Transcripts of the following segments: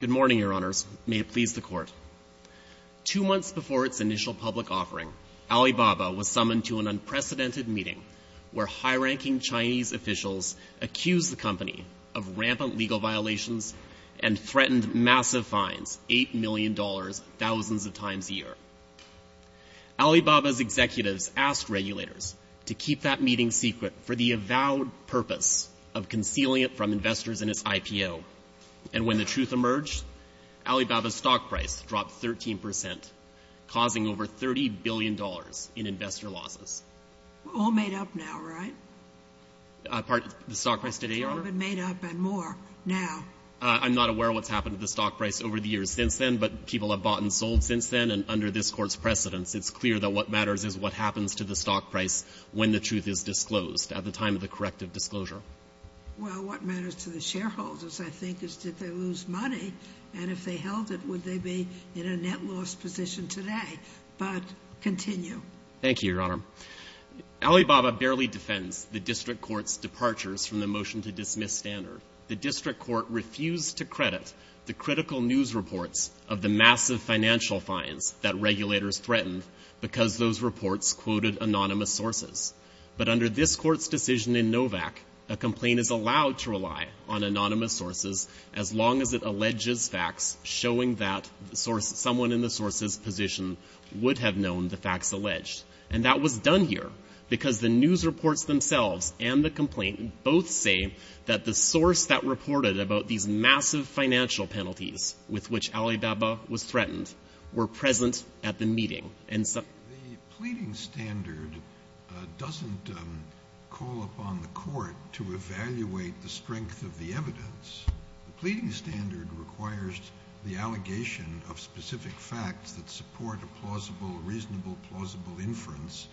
Good morning, Your Honours. May it please the Court. Two months before its initial public offering, Alibaba was summoned to an unprecedented meeting where high-ranking Chinese officials accused the company of rampant legal violations and threatened massive fines, $8 million, thousands of times a year. Alibaba's executives asked regulators to keep that meeting secret for the avowed purpose of concealing it from investors in its IPO. And when the truth emerged, Alibaba's stock price dropped 13%, causing over $30 billion in investor losses. We're all made up now, right? Pardon? The stock price today, Your Honour? It's all been made up and more now. I'm not aware of what's happened to the stock price over the years since then, but people have bought and sold since then, and under this Court's precedence, it's clear that what matters is what happens to the stock price when the truth is disclosed, at the time of the corrective disclosure. Well, what matters to the shareholders, I think, is did they lose money, and if they held it, would they be in a net loss position today? But continue. Thank you, Your Honour. Alibaba barely defends the District Court's departures from the motion to dismiss Standard. The District Court refused to credit the critical news reports of the massive financial fines that regulators threatened because those reports quoted anonymous sources. But under this Court's decision in Novak, a complaint is allowed to rely on anonymous sources as long as it alleges facts showing that someone in the source's position would have known the facts alleged. And that was done here because the news reports themselves and the complaint both say that the source that reported about these massive financial penalties with which Alibaba was threatened were present at the meeting. The pleading Standard doesn't call upon the Court to evaluate the strength of the evidence. The pleading Standard requires the allegation of specific facts that support a plausible, reasonable, plausible inference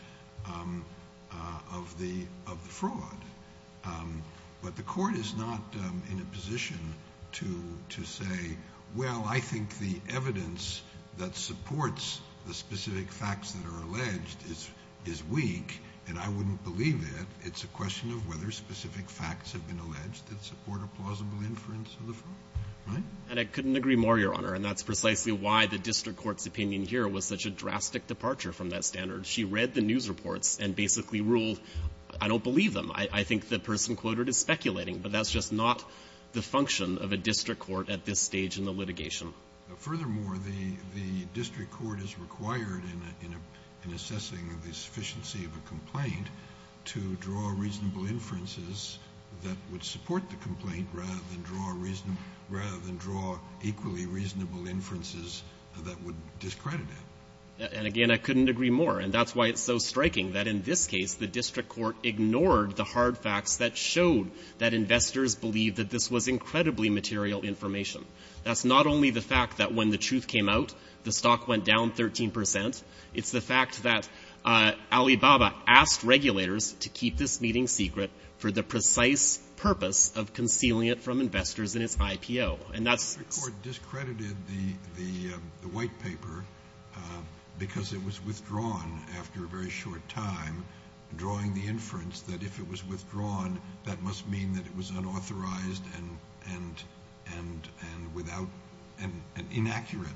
of the fraud. But the Court is not in a position to say, well, I think the evidence that supports the specific facts that are alleged is weak, and I wouldn't believe it. It's a question of whether specific facts have been alleged that support a plausible inference of the fraud, right? And I couldn't agree more, Your Honour. And that's precisely why the District Court's opinion here was such a drastic departure from that Standard. She read the news reports and basically ruled, I don't believe them. I think the person quoted is speculating, but that's just not the function of a District Court at this stage in the litigation. Furthermore, the District Court is required in assessing the sufficiency of a complaint to draw reasonable inferences that would support the complaint rather than draw equally reasonable inferences that would discredit it. And again, I couldn't agree more. And that's why it's so striking that in this case, the District Court ignored the hard facts that showed that investors believed that this was incredibly material information. That's not only the fact that when the truth came out, the stock went down 13 percent. It's the fact that Alibaba asked regulators to keep this meeting secret for the precise purpose of concealing it from investors in its IPO. And that's... The District Court discredited the white paper because it was withdrawn after a very short time, drawing the inference that if it was withdrawn, that must mean that it was unauthorized and inaccurate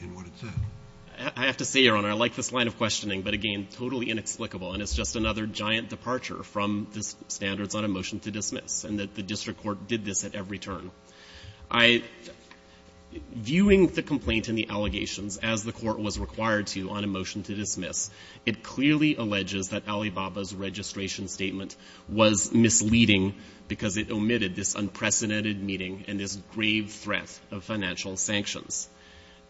in what it said. I have to say, Your Honour, I like this line of questioning, but again, totally inexplicable. And it's just another giant departure from the standards on a motion to dismiss, and that the District Court did this at every turn. Viewing the complaint and the allegations as the court was required to on a motion to dismiss, it clearly alleges that Alibaba's registration statement was misleading because it omitted this unprecedented meeting and this grave threat of financial sanctions.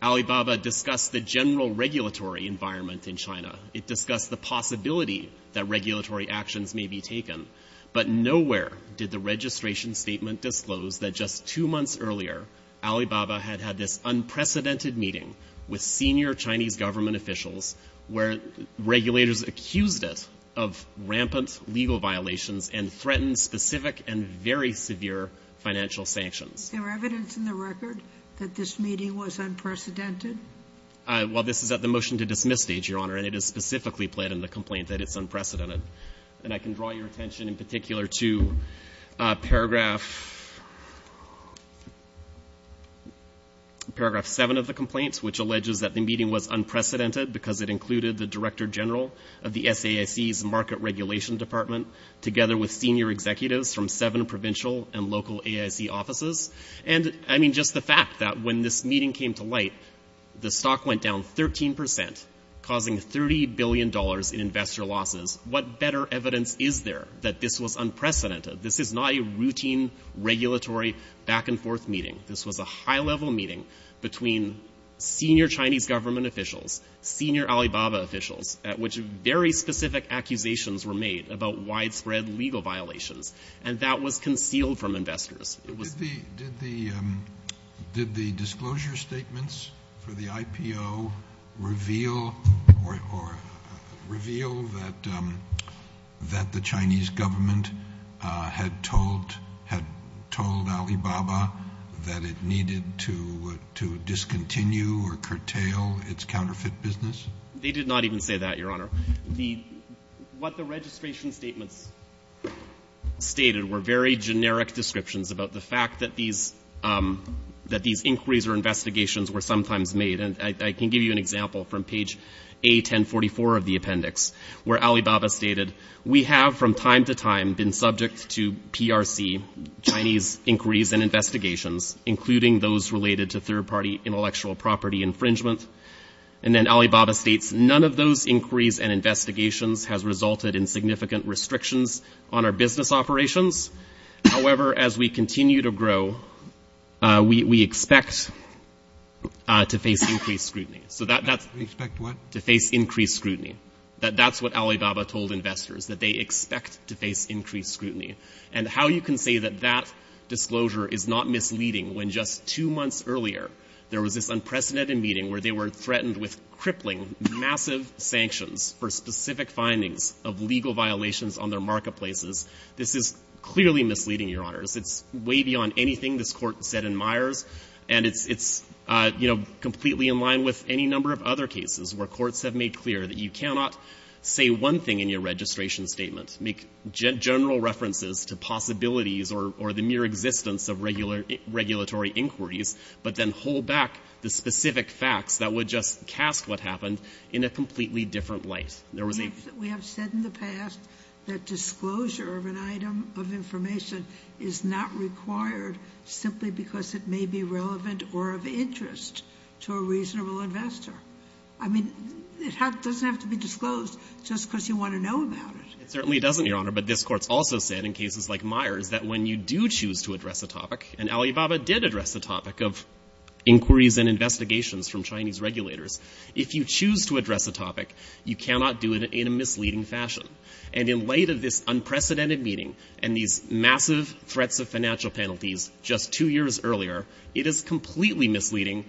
Alibaba discussed the general regulatory environment in China. It discussed the possibility that regulatory actions may be taken. But nowhere did the registration statement disclose that just two months earlier, Alibaba had had this unprecedented meeting with senior Chinese government officials where regulators accused it of rampant legal violations and threatened specific and very severe financial sanctions. Is there evidence in the record that this meeting was unprecedented? Well, this is at the motion to dismiss stage, Your Honour, and it is specifically pled in the complaint that it's unprecedented. And I can draw your attention in particular to paragraph seven of the complaint, which alleges that the meeting was unprecedented because it included the Director General of the SAIC's Market Regulation Department together with senior executives from seven provincial and local AIC offices. And I mean, just the fact that when this meeting came to light, the stock went down 13 percent, causing $30 billion in investor losses. What better evidence is there that this was unprecedented? This is not a routine regulatory back-and-forth meeting. This was a high-level meeting between senior Chinese government officials, senior Alibaba officials, at which very specific accusations were made about widespread legal violations. And that was concealed from investors. Did the disclosure statements for the IPO reveal that the Chinese government had told Alibaba that it needed to discontinue or curtail its counterfeit business? They did not even say that, Your Honour. What the registration statements stated were very generic descriptions about the fact that these inquiries or investigations were sometimes made. And I can give you an example from page A1044 of the appendix, where Alibaba stated, We have, from time to time, been subject to PRC, Chinese inquiries and investigations, including those related to third-party intellectual property infringement. And then Alibaba states, None of those inquiries and investigations has resulted in significant restrictions on our business operations. However, as we continue to grow, we expect to face increased scrutiny. So that's... Expect what? To face increased scrutiny. That's what Alibaba told investors, that they expect to face increased scrutiny. And how you can say that that disclosure is not misleading, when just two months earlier, there was this unprecedented meeting where they were threatened with crippling massive sanctions for specific findings of legal violations on their marketplaces. This is clearly misleading, Your Honours. It's way beyond anything this Court said in Myers. And it's, you know, completely in line with any number of other cases where courts have made clear that you cannot say one thing in your registration statement, make general references to possibilities or the mere existence of regulatory inquiries, but then hold back the specific facts that would just cast what happened in a completely different light. We have said in the past that disclosure of an item of information is not required simply because it may be relevant or of interest to a reasonable investor. I mean, it doesn't have to be disclosed just because you want to know about it. It certainly doesn't, Your Honour. But this Court's also said in cases like Myers that when you do choose to address a topic, and Alibaba did address the topic of inquiries and investigations from Chinese regulators, if you choose to address a topic, you cannot do it in a misleading fashion. And in light of this unprecedented meeting and these massive threats of financial penalties just two years earlier, it is completely misleading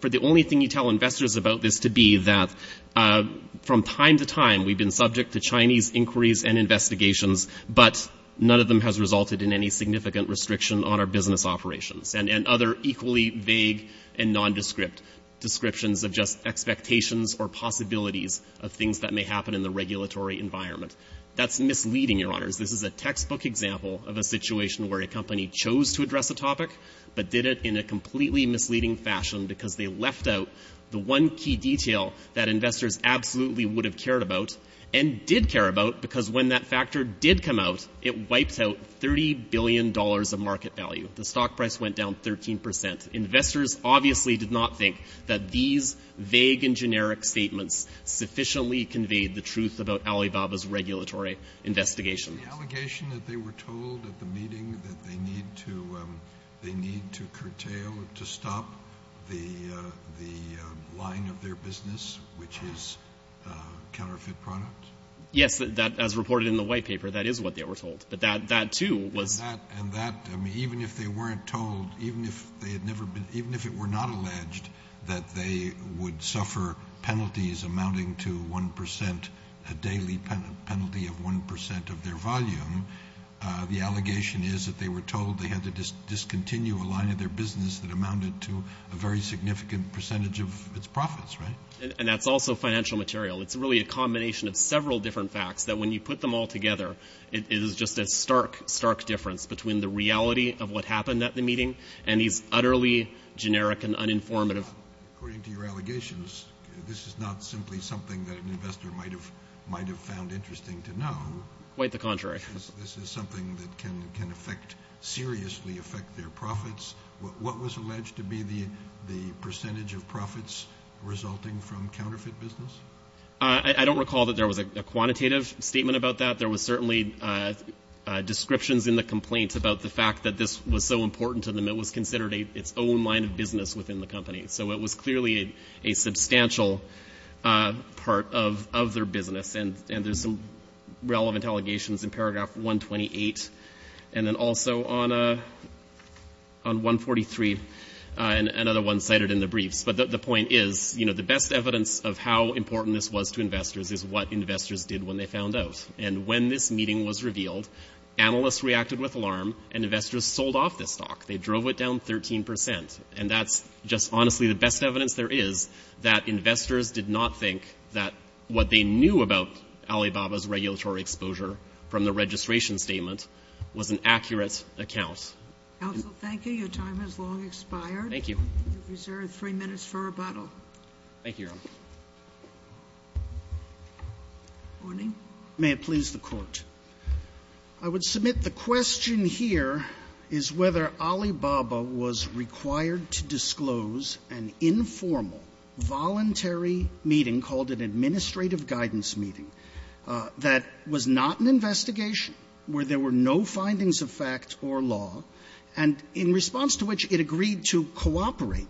for the only thing you tell investors about this to be that from time to time we've been subject to Chinese inquiries and investigations, but none of them has resulted in any significant restriction on our business operations. And other equally vague and nondescript descriptions of just expectations or possibilities of things that may happen in the regulatory environment. That's misleading, Your Honours. This is a textbook example of a situation where a company chose to address a topic but did it in a completely misleading fashion because they left out the one key detail that did come out. It wiped out $30 billion of market value. The stock price went down 13%. Investors obviously did not think that these vague and generic statements sufficiently conveyed the truth about Alibaba's regulatory investigations. The allegation that they were told at the meeting that they need to curtail, to stop the line of their business, which is counterfeit products? Yes, as reported in the White Paper, that is what they were told. But that too was... And that, even if they weren't told, even if it were not alleged that they would suffer penalties amounting to 1%, a daily penalty of 1% of their volume, the allegation is that they were told they had to discontinue a line of their business that amounted to a very significant percentage of its profits, right? And that's also financial material. It's really a combination of several different facts that when you put them all together, it is just a stark, stark difference between the reality of what happened at the meeting and these utterly generic and uninformative... According to your allegations, this is not simply something that an investor might have found interesting to know. Quite the contrary. This is something that can affect, seriously affect their profits. What was alleged to be the percentage of profits resulting from counterfeit business? I don't recall that there was a quantitative statement about that. There was certainly descriptions in the complaint about the fact that this was so important to them, it was considered its own line of business within the company. So it was clearly a substantial part of their business, and there's some relevant allegations in paragraph 128, and then also on 143, and another one cited in the briefs. But the point is, you know, the best evidence of how important this was to investors is what investors did when they found out. And when this meeting was revealed, analysts reacted with alarm, and investors sold off this stock. They drove it down 13%. And that's just honestly the best evidence there is that investors did not think that what they knew about Alibaba's regulatory exposure from the registration statement was an accurate account. Counsel, thank you. Your time has long expired. Thank you. You're reserved three minutes for rebuttal. Thank you, Your Honor. Good morning. May it please the Court. I would submit the question here is whether Alibaba was required to disclose an informal voluntary meeting called an administrative guidance meeting that was not an investigation, where there were no findings of fact or law, and in response to which it agreed to cooperate,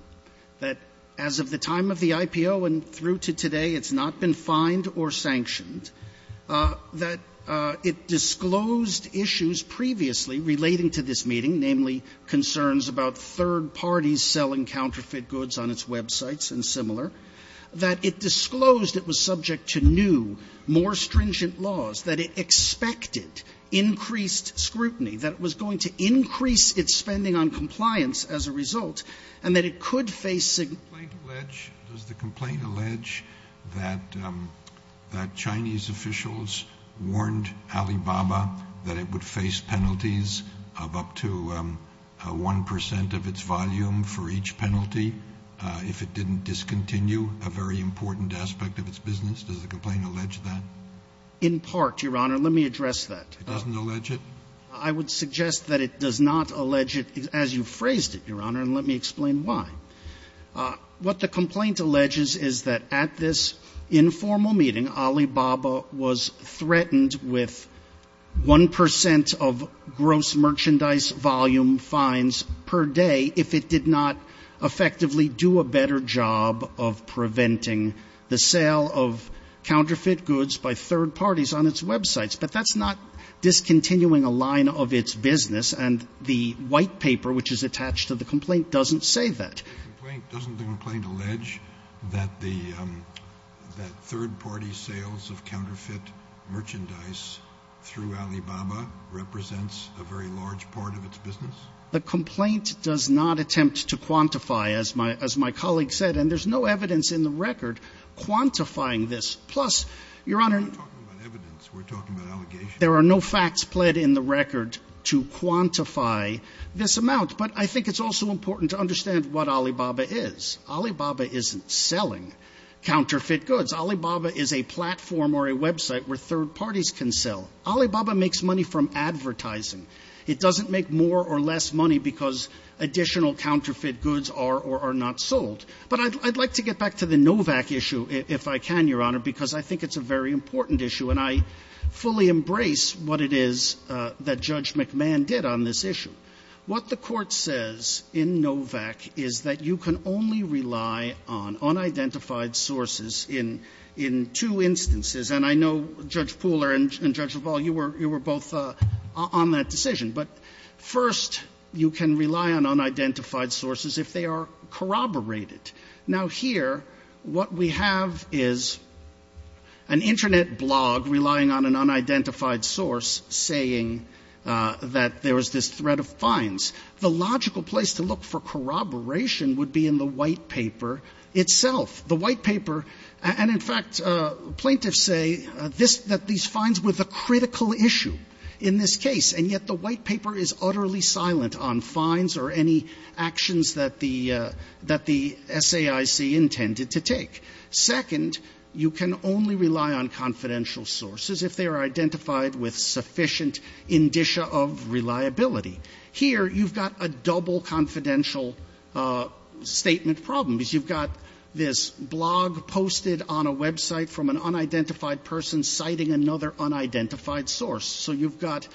that as of the time of the IPO and through to today, it's not been fined or sanctioned, that it disclosed issues previously relating to this meeting, namely concerns about third parties selling counterfeit goods on its websites and similar, that it disclosed it was subject to new, more stringent laws, that it expected increased scrutiny, that it was going to increase its spending on compliance as a result, and that it could face significant Does the complaint allege that Chinese officials warned Alibaba that it would face penalties of up to 1 percent of its volume for each penalty if it didn't discontinue a very important aspect of its business? Does the complaint allege that? In part, Your Honor. Let me address that. It doesn't allege it? I would suggest that it does not allege it, as you phrased it, Your Honor, and let me explain why. What the complaint alleges is that at this informal meeting, Alibaba was threatened with 1 percent of gross merchandise volume fines per day if it did not effectively do a better job of preventing the sale of counterfeit goods by third parties on its websites. But that's not discontinuing a line of its business, and the white paper which is attached to the complaint doesn't say that. Doesn't the complaint allege that third-party sales of counterfeit merchandise through Alibaba represents a very large part of its business? The complaint does not attempt to quantify, as my colleague said, and there's no evidence in the record quantifying this. Plus, Your Honor. We're not talking about evidence. We're talking about allegations. There are no facts pled in the record to quantify this amount, but I think it's also important to understand what Alibaba is. Alibaba isn't selling counterfeit goods. Alibaba is a platform or a website where third parties can sell. Alibaba makes money from advertising. It doesn't make more or less money because additional counterfeit goods are or are not sold. But I'd like to get back to the Novak issue, if I can, Your Honor, because I think it's a very important issue, and I fully embrace what it is that Judge McMahon did on this issue. What the Court says in Novak is that you can only rely on unidentified sources in two instances, and I know, Judge Pooler and Judge LaValle, you were both on that decision. But first, you can rely on unidentified sources if they are corroborated. Now here, what we have is an Internet blog relying on an unidentified source saying that there was this threat of fines. The logical place to look for corroboration would be in the White Paper itself. The White Paper, and in fact, plaintiffs say that these fines were the critical issue in this case, and yet the White Paper is utterly silent on fines or any actions that the SAIC intended to take. Second, you can only rely on confidential sources if they are identified with sufficient indicia of reliability. Here, you've got a double confidential statement problem, because you've got this blog posted on a website from an unidentified person citing another unidentified source. So you've got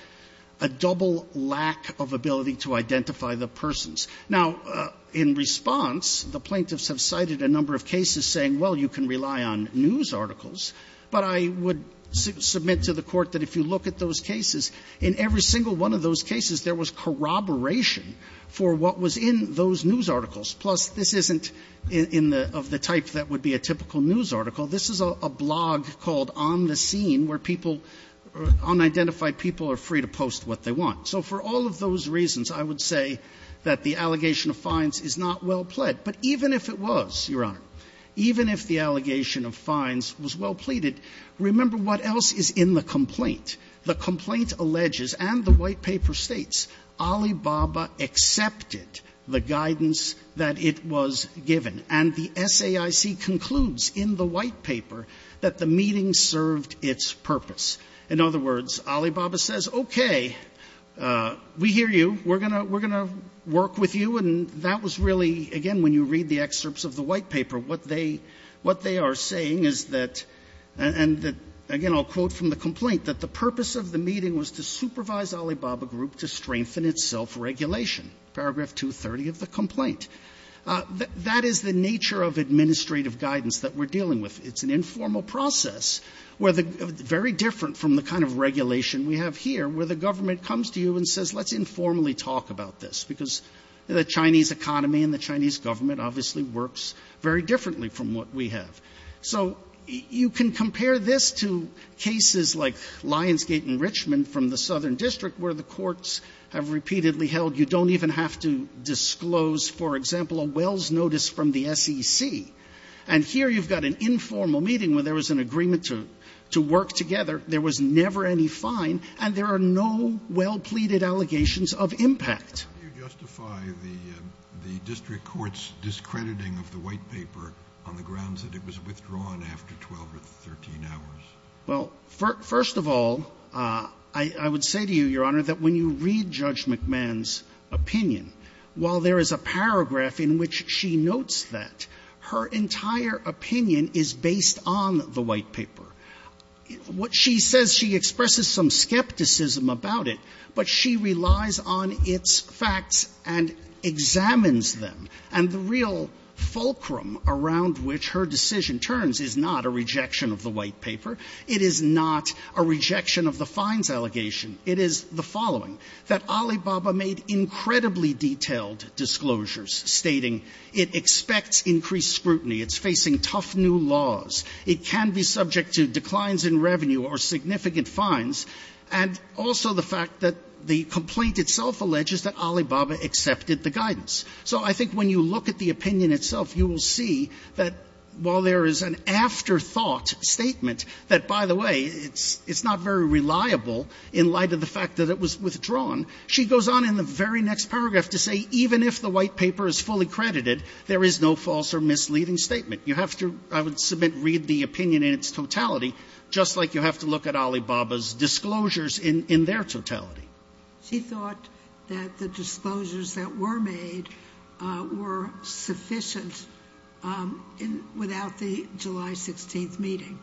a double lack of ability to identify the persons. Now, in response, the plaintiffs have cited a number of cases saying, well, you can rely on news articles, but I would submit to the Court that if you look at those cases, in every single one of those cases, there was corroboration for what was in those news articles. Plus, this isn't in the of the type that would be a typical news article. This is a blog called On the Scene, where people, unidentified people are free to post what they want. So for all of those reasons, I would say that the allegation of fines is not well pled. But even if it was, Your Honor, even if the allegation of fines was well pleaded, remember what else is in the complaint. The complaint alleges, and the White Paper states, Alibaba accepted the guidance that it was given. And the SAIC concludes in the White Paper that the meeting served its purpose. In other words, Alibaba says, okay, we hear you. We're going to work with you. And that was really, again, when you read the excerpts of the White Paper, what they are saying is that, and again, I'll quote from the complaint, that the purpose of the meeting was to supervise Alibaba Group to strengthen its self-regulation, paragraph 230 of the complaint. That is the nature of administrative guidance that we're dealing with. It's an informal process, very different from the kind of regulation we have here, where the government comes to you and says, let's informally talk about this. Because the Chinese economy and the Chinese government obviously works very differently from what we have. So you can compare this to cases like Lionsgate in Richmond from the Southern District, where the courts have repeatedly held you don't even have to disclose, for example, a wells notice from the SEC. And here you've got an informal meeting where there was an agreement to work together. There was never any fine. And there are no well-pleaded allegations of impact. The Court How do you justify the district court's discrediting of the White Paper on the grounds that it was withdrawn after 12 or 13 hours? Well, first of all, I would say to you, Your Honor, that when you read Judge McMahon's opinion, while there is a paragraph in which she notes that, right? Her entire opinion is based on the White Paper. What she says, she expresses some skepticism about it, but she relies on its facts and examines them. And the real fulcrum around which her decision turns is not a rejection of the White Paper. It is not a rejection of the fines allegation. It is the following, that Alibaba made incredibly detailed disclosures, stating it expects increased scrutiny, it's facing tough new laws, it can be subject to declines in revenue or significant fines, and also the fact that the complaint itself alleges that Alibaba accepted the guidance. So I think when you look at the opinion itself, you will see that while there is an afterthought statement that, by the way, it's not very reliable in light of the fact that it was withdrawn, she goes on in the very next paragraph to say even if the White Paper is fully credited, there is no false or misleading statement. You have to, I would submit, read the opinion in its totality, just like you have to look at Alibaba's disclosures in their totality. She thought that the disclosures that were made were sufficient without the July 16th meeting,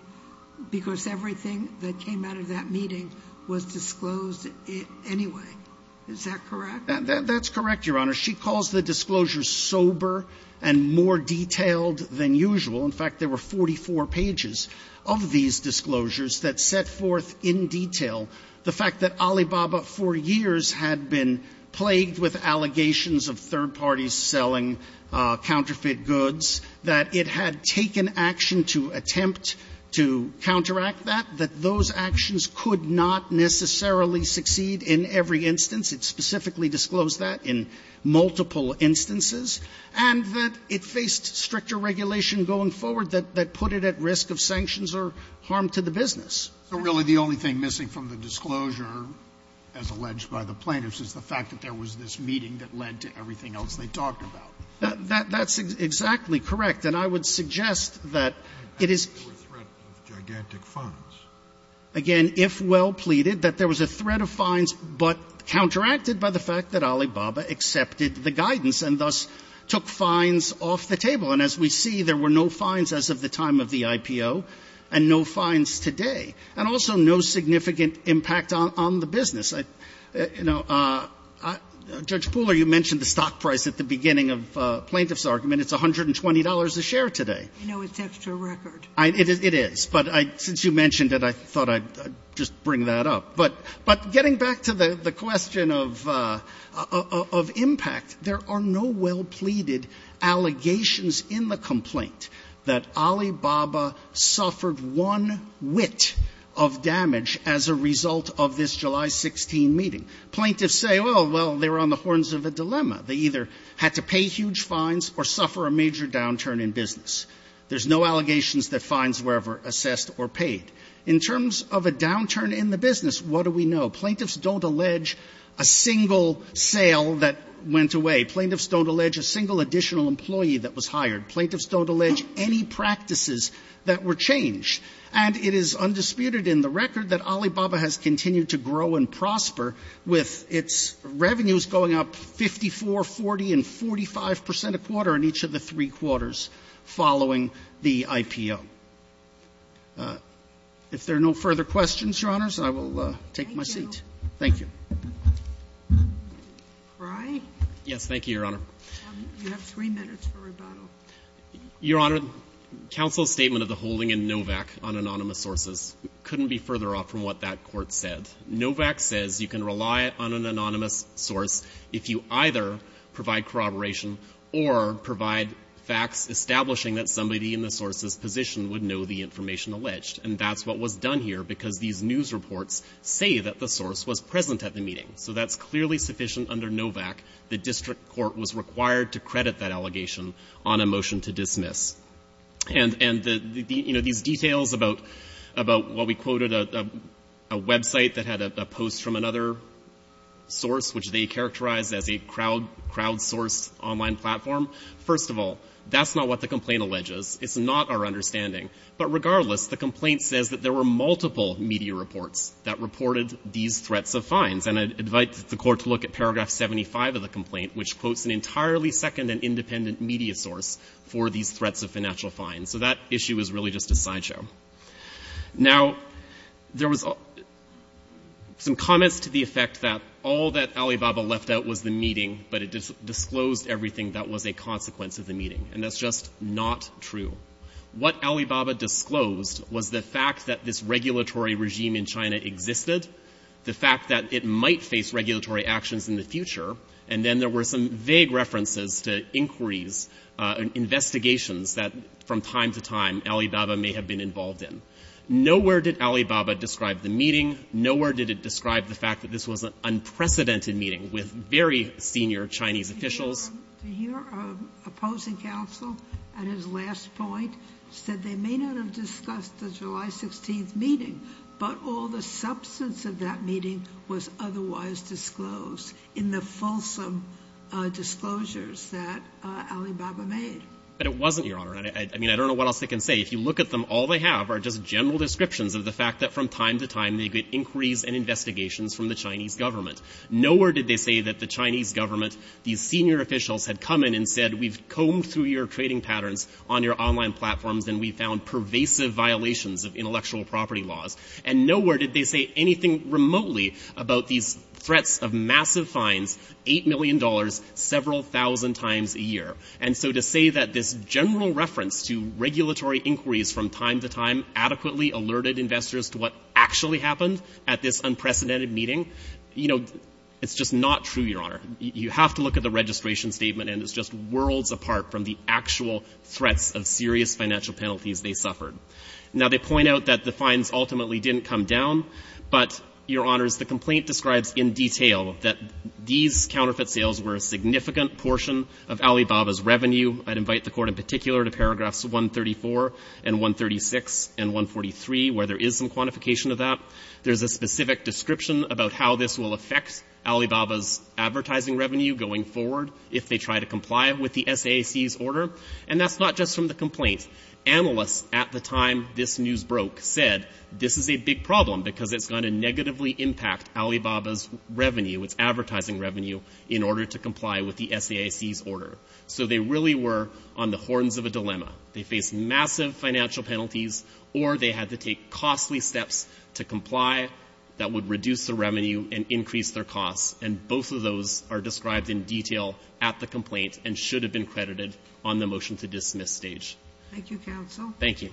because everything that came out of that meeting was disclosed anyway. Is that correct? That's correct, Your Honor. She calls the disclosures sober and more detailed than usual. In fact, there were 44 pages of these disclosures that set forth in detail the fact that Alibaba for years had been plagued with allegations of third parties selling counterfeit goods, that it had taken action to attempt to counteract that, that those actions could not necessarily succeed in every instance. It specifically disclosed that in multiple instances, and that it faced stricter regulation going forward that put it at risk of sanctions or harm to the business. So really the only thing missing from the disclosure, as alleged by the plaintiffs, is the fact that there was this meeting that led to everything else they talked about. That's exactly correct. And I would suggest that it is — I think there were threats of gigantic fines. Again, if well pleaded, that there was a threat of fines, but counteracted by the fact that Alibaba accepted the guidance and thus took fines off the table. And as we see, there were no fines as of the time of the IPO and no fines today, and also no significant impact on the business. You know, Judge Pooler, you mentioned the stock price at the beginning of the plaintiff's argument. It's $120 a share today. I know it's extra record. It is. But since you mentioned it, I thought I'd just bring that up. But getting back to the question of impact, there are no well pleaded allegations in the complaint that Alibaba suffered one whit of damage as a result of this July 16 meeting. Plaintiffs say, well, they're on the horns of a dilemma. They either had to pay huge fines or suffer a major downturn in business. There's no allegations that fines were ever assessed or paid. In terms of a downturn in the business, what do we know? Plaintiffs don't allege a single sale that went away. Plaintiffs don't allege a single additional employee that was hired. Plaintiffs don't allege any practices that were changed. And it is undisputed in the record that Alibaba has continued to grow and prosper with its revenues going up 54, 40, and 45 percent a quarter in each of the three following the IPO. If there are no further questions, Your Honors, I will take my seat. Thank you. Thank you. Pry? Yes. Thank you, Your Honor. You have three minutes for rebuttal. Your Honor, counsel's statement of the holding in Novak on anonymous sources couldn't be further off from what that court said. Novak says you can rely on an anonymous source if you either provide corroboration or provide facts establishing that somebody in the source's position would know the information alleged. And that's what was done here because these news reports say that the source was present at the meeting. So that's clearly sufficient under Novak. The district court was required to credit that allegation on a motion to dismiss. And the, you know, these details about what we quoted, a website that had a post from an online platform, first of all, that's not what the complaint alleges. It's not our understanding. But regardless, the complaint says that there were multiple media reports that reported these threats of fines. And I'd invite the court to look at paragraph 75 of the complaint, which quotes an entirely second and independent media source for these threats of financial fines. So that issue is really just a sideshow. Now there was some comments to the effect that all that Alibaba left out was the meeting, but it disclosed everything that was a consequence of the meeting. And that's just not true. What Alibaba disclosed was the fact that this regulatory regime in China existed, the fact that it might face regulatory actions in the future, and then there were some vague references to inquiries, investigations that from time to time Alibaba may have been involved in. Nowhere did Alibaba describe the meeting. Nowhere did it describe the fact that this was an unprecedented meeting with very senior Chinese officials. To hear an opposing counsel at his last point said they may not have discussed the July 16th meeting, but all the substance of that meeting was otherwise disclosed in the fulsome disclosures that Alibaba made. But it wasn't, Your Honor. I mean, I don't know what else I can say. If you look at them, all they have are just general descriptions of the fact that from time to time they get inquiries and investigations from the Chinese government. Nowhere did they say that the Chinese government, these senior officials, had come in and said we've combed through your trading patterns on your online platforms and we found pervasive violations of intellectual property laws. And nowhere did they say anything remotely about these threats of massive fines, $8 million, several thousand times a year. And so to say that this general reference to regulatory inquiries from time to time adequately alerted investors to what actually happened at this unprecedented meeting, you know, it's just not true, Your Honor. You have to look at the registration statement and it's just worlds apart from the actual threats of serious financial penalties they suffered. Now they point out that the fines ultimately didn't come down, but, Your Honors, the complaint describes in detail that these counterfeit sales were a significant portion of Alibaba's revenue. I'd invite the Court in particular to paragraphs 134 and 136 and 143 where there is some quantification of that. There's a specific description about how this will affect Alibaba's advertising revenue going forward if they try to comply with the SAAC's order. And that's not just from the complaint. Analysts at the time this news broke said this is a big problem because it's going to negatively impact Alibaba's revenue, its advertising revenue, in order to comply with the SAAC's order. So they really were on the horns of a dilemma. They faced massive financial penalties or they had to take costly steps to comply that would reduce the revenue and increase their costs. And both of those are described in detail at the complaint and should have been credited on the motion to dismiss stage. Thank you.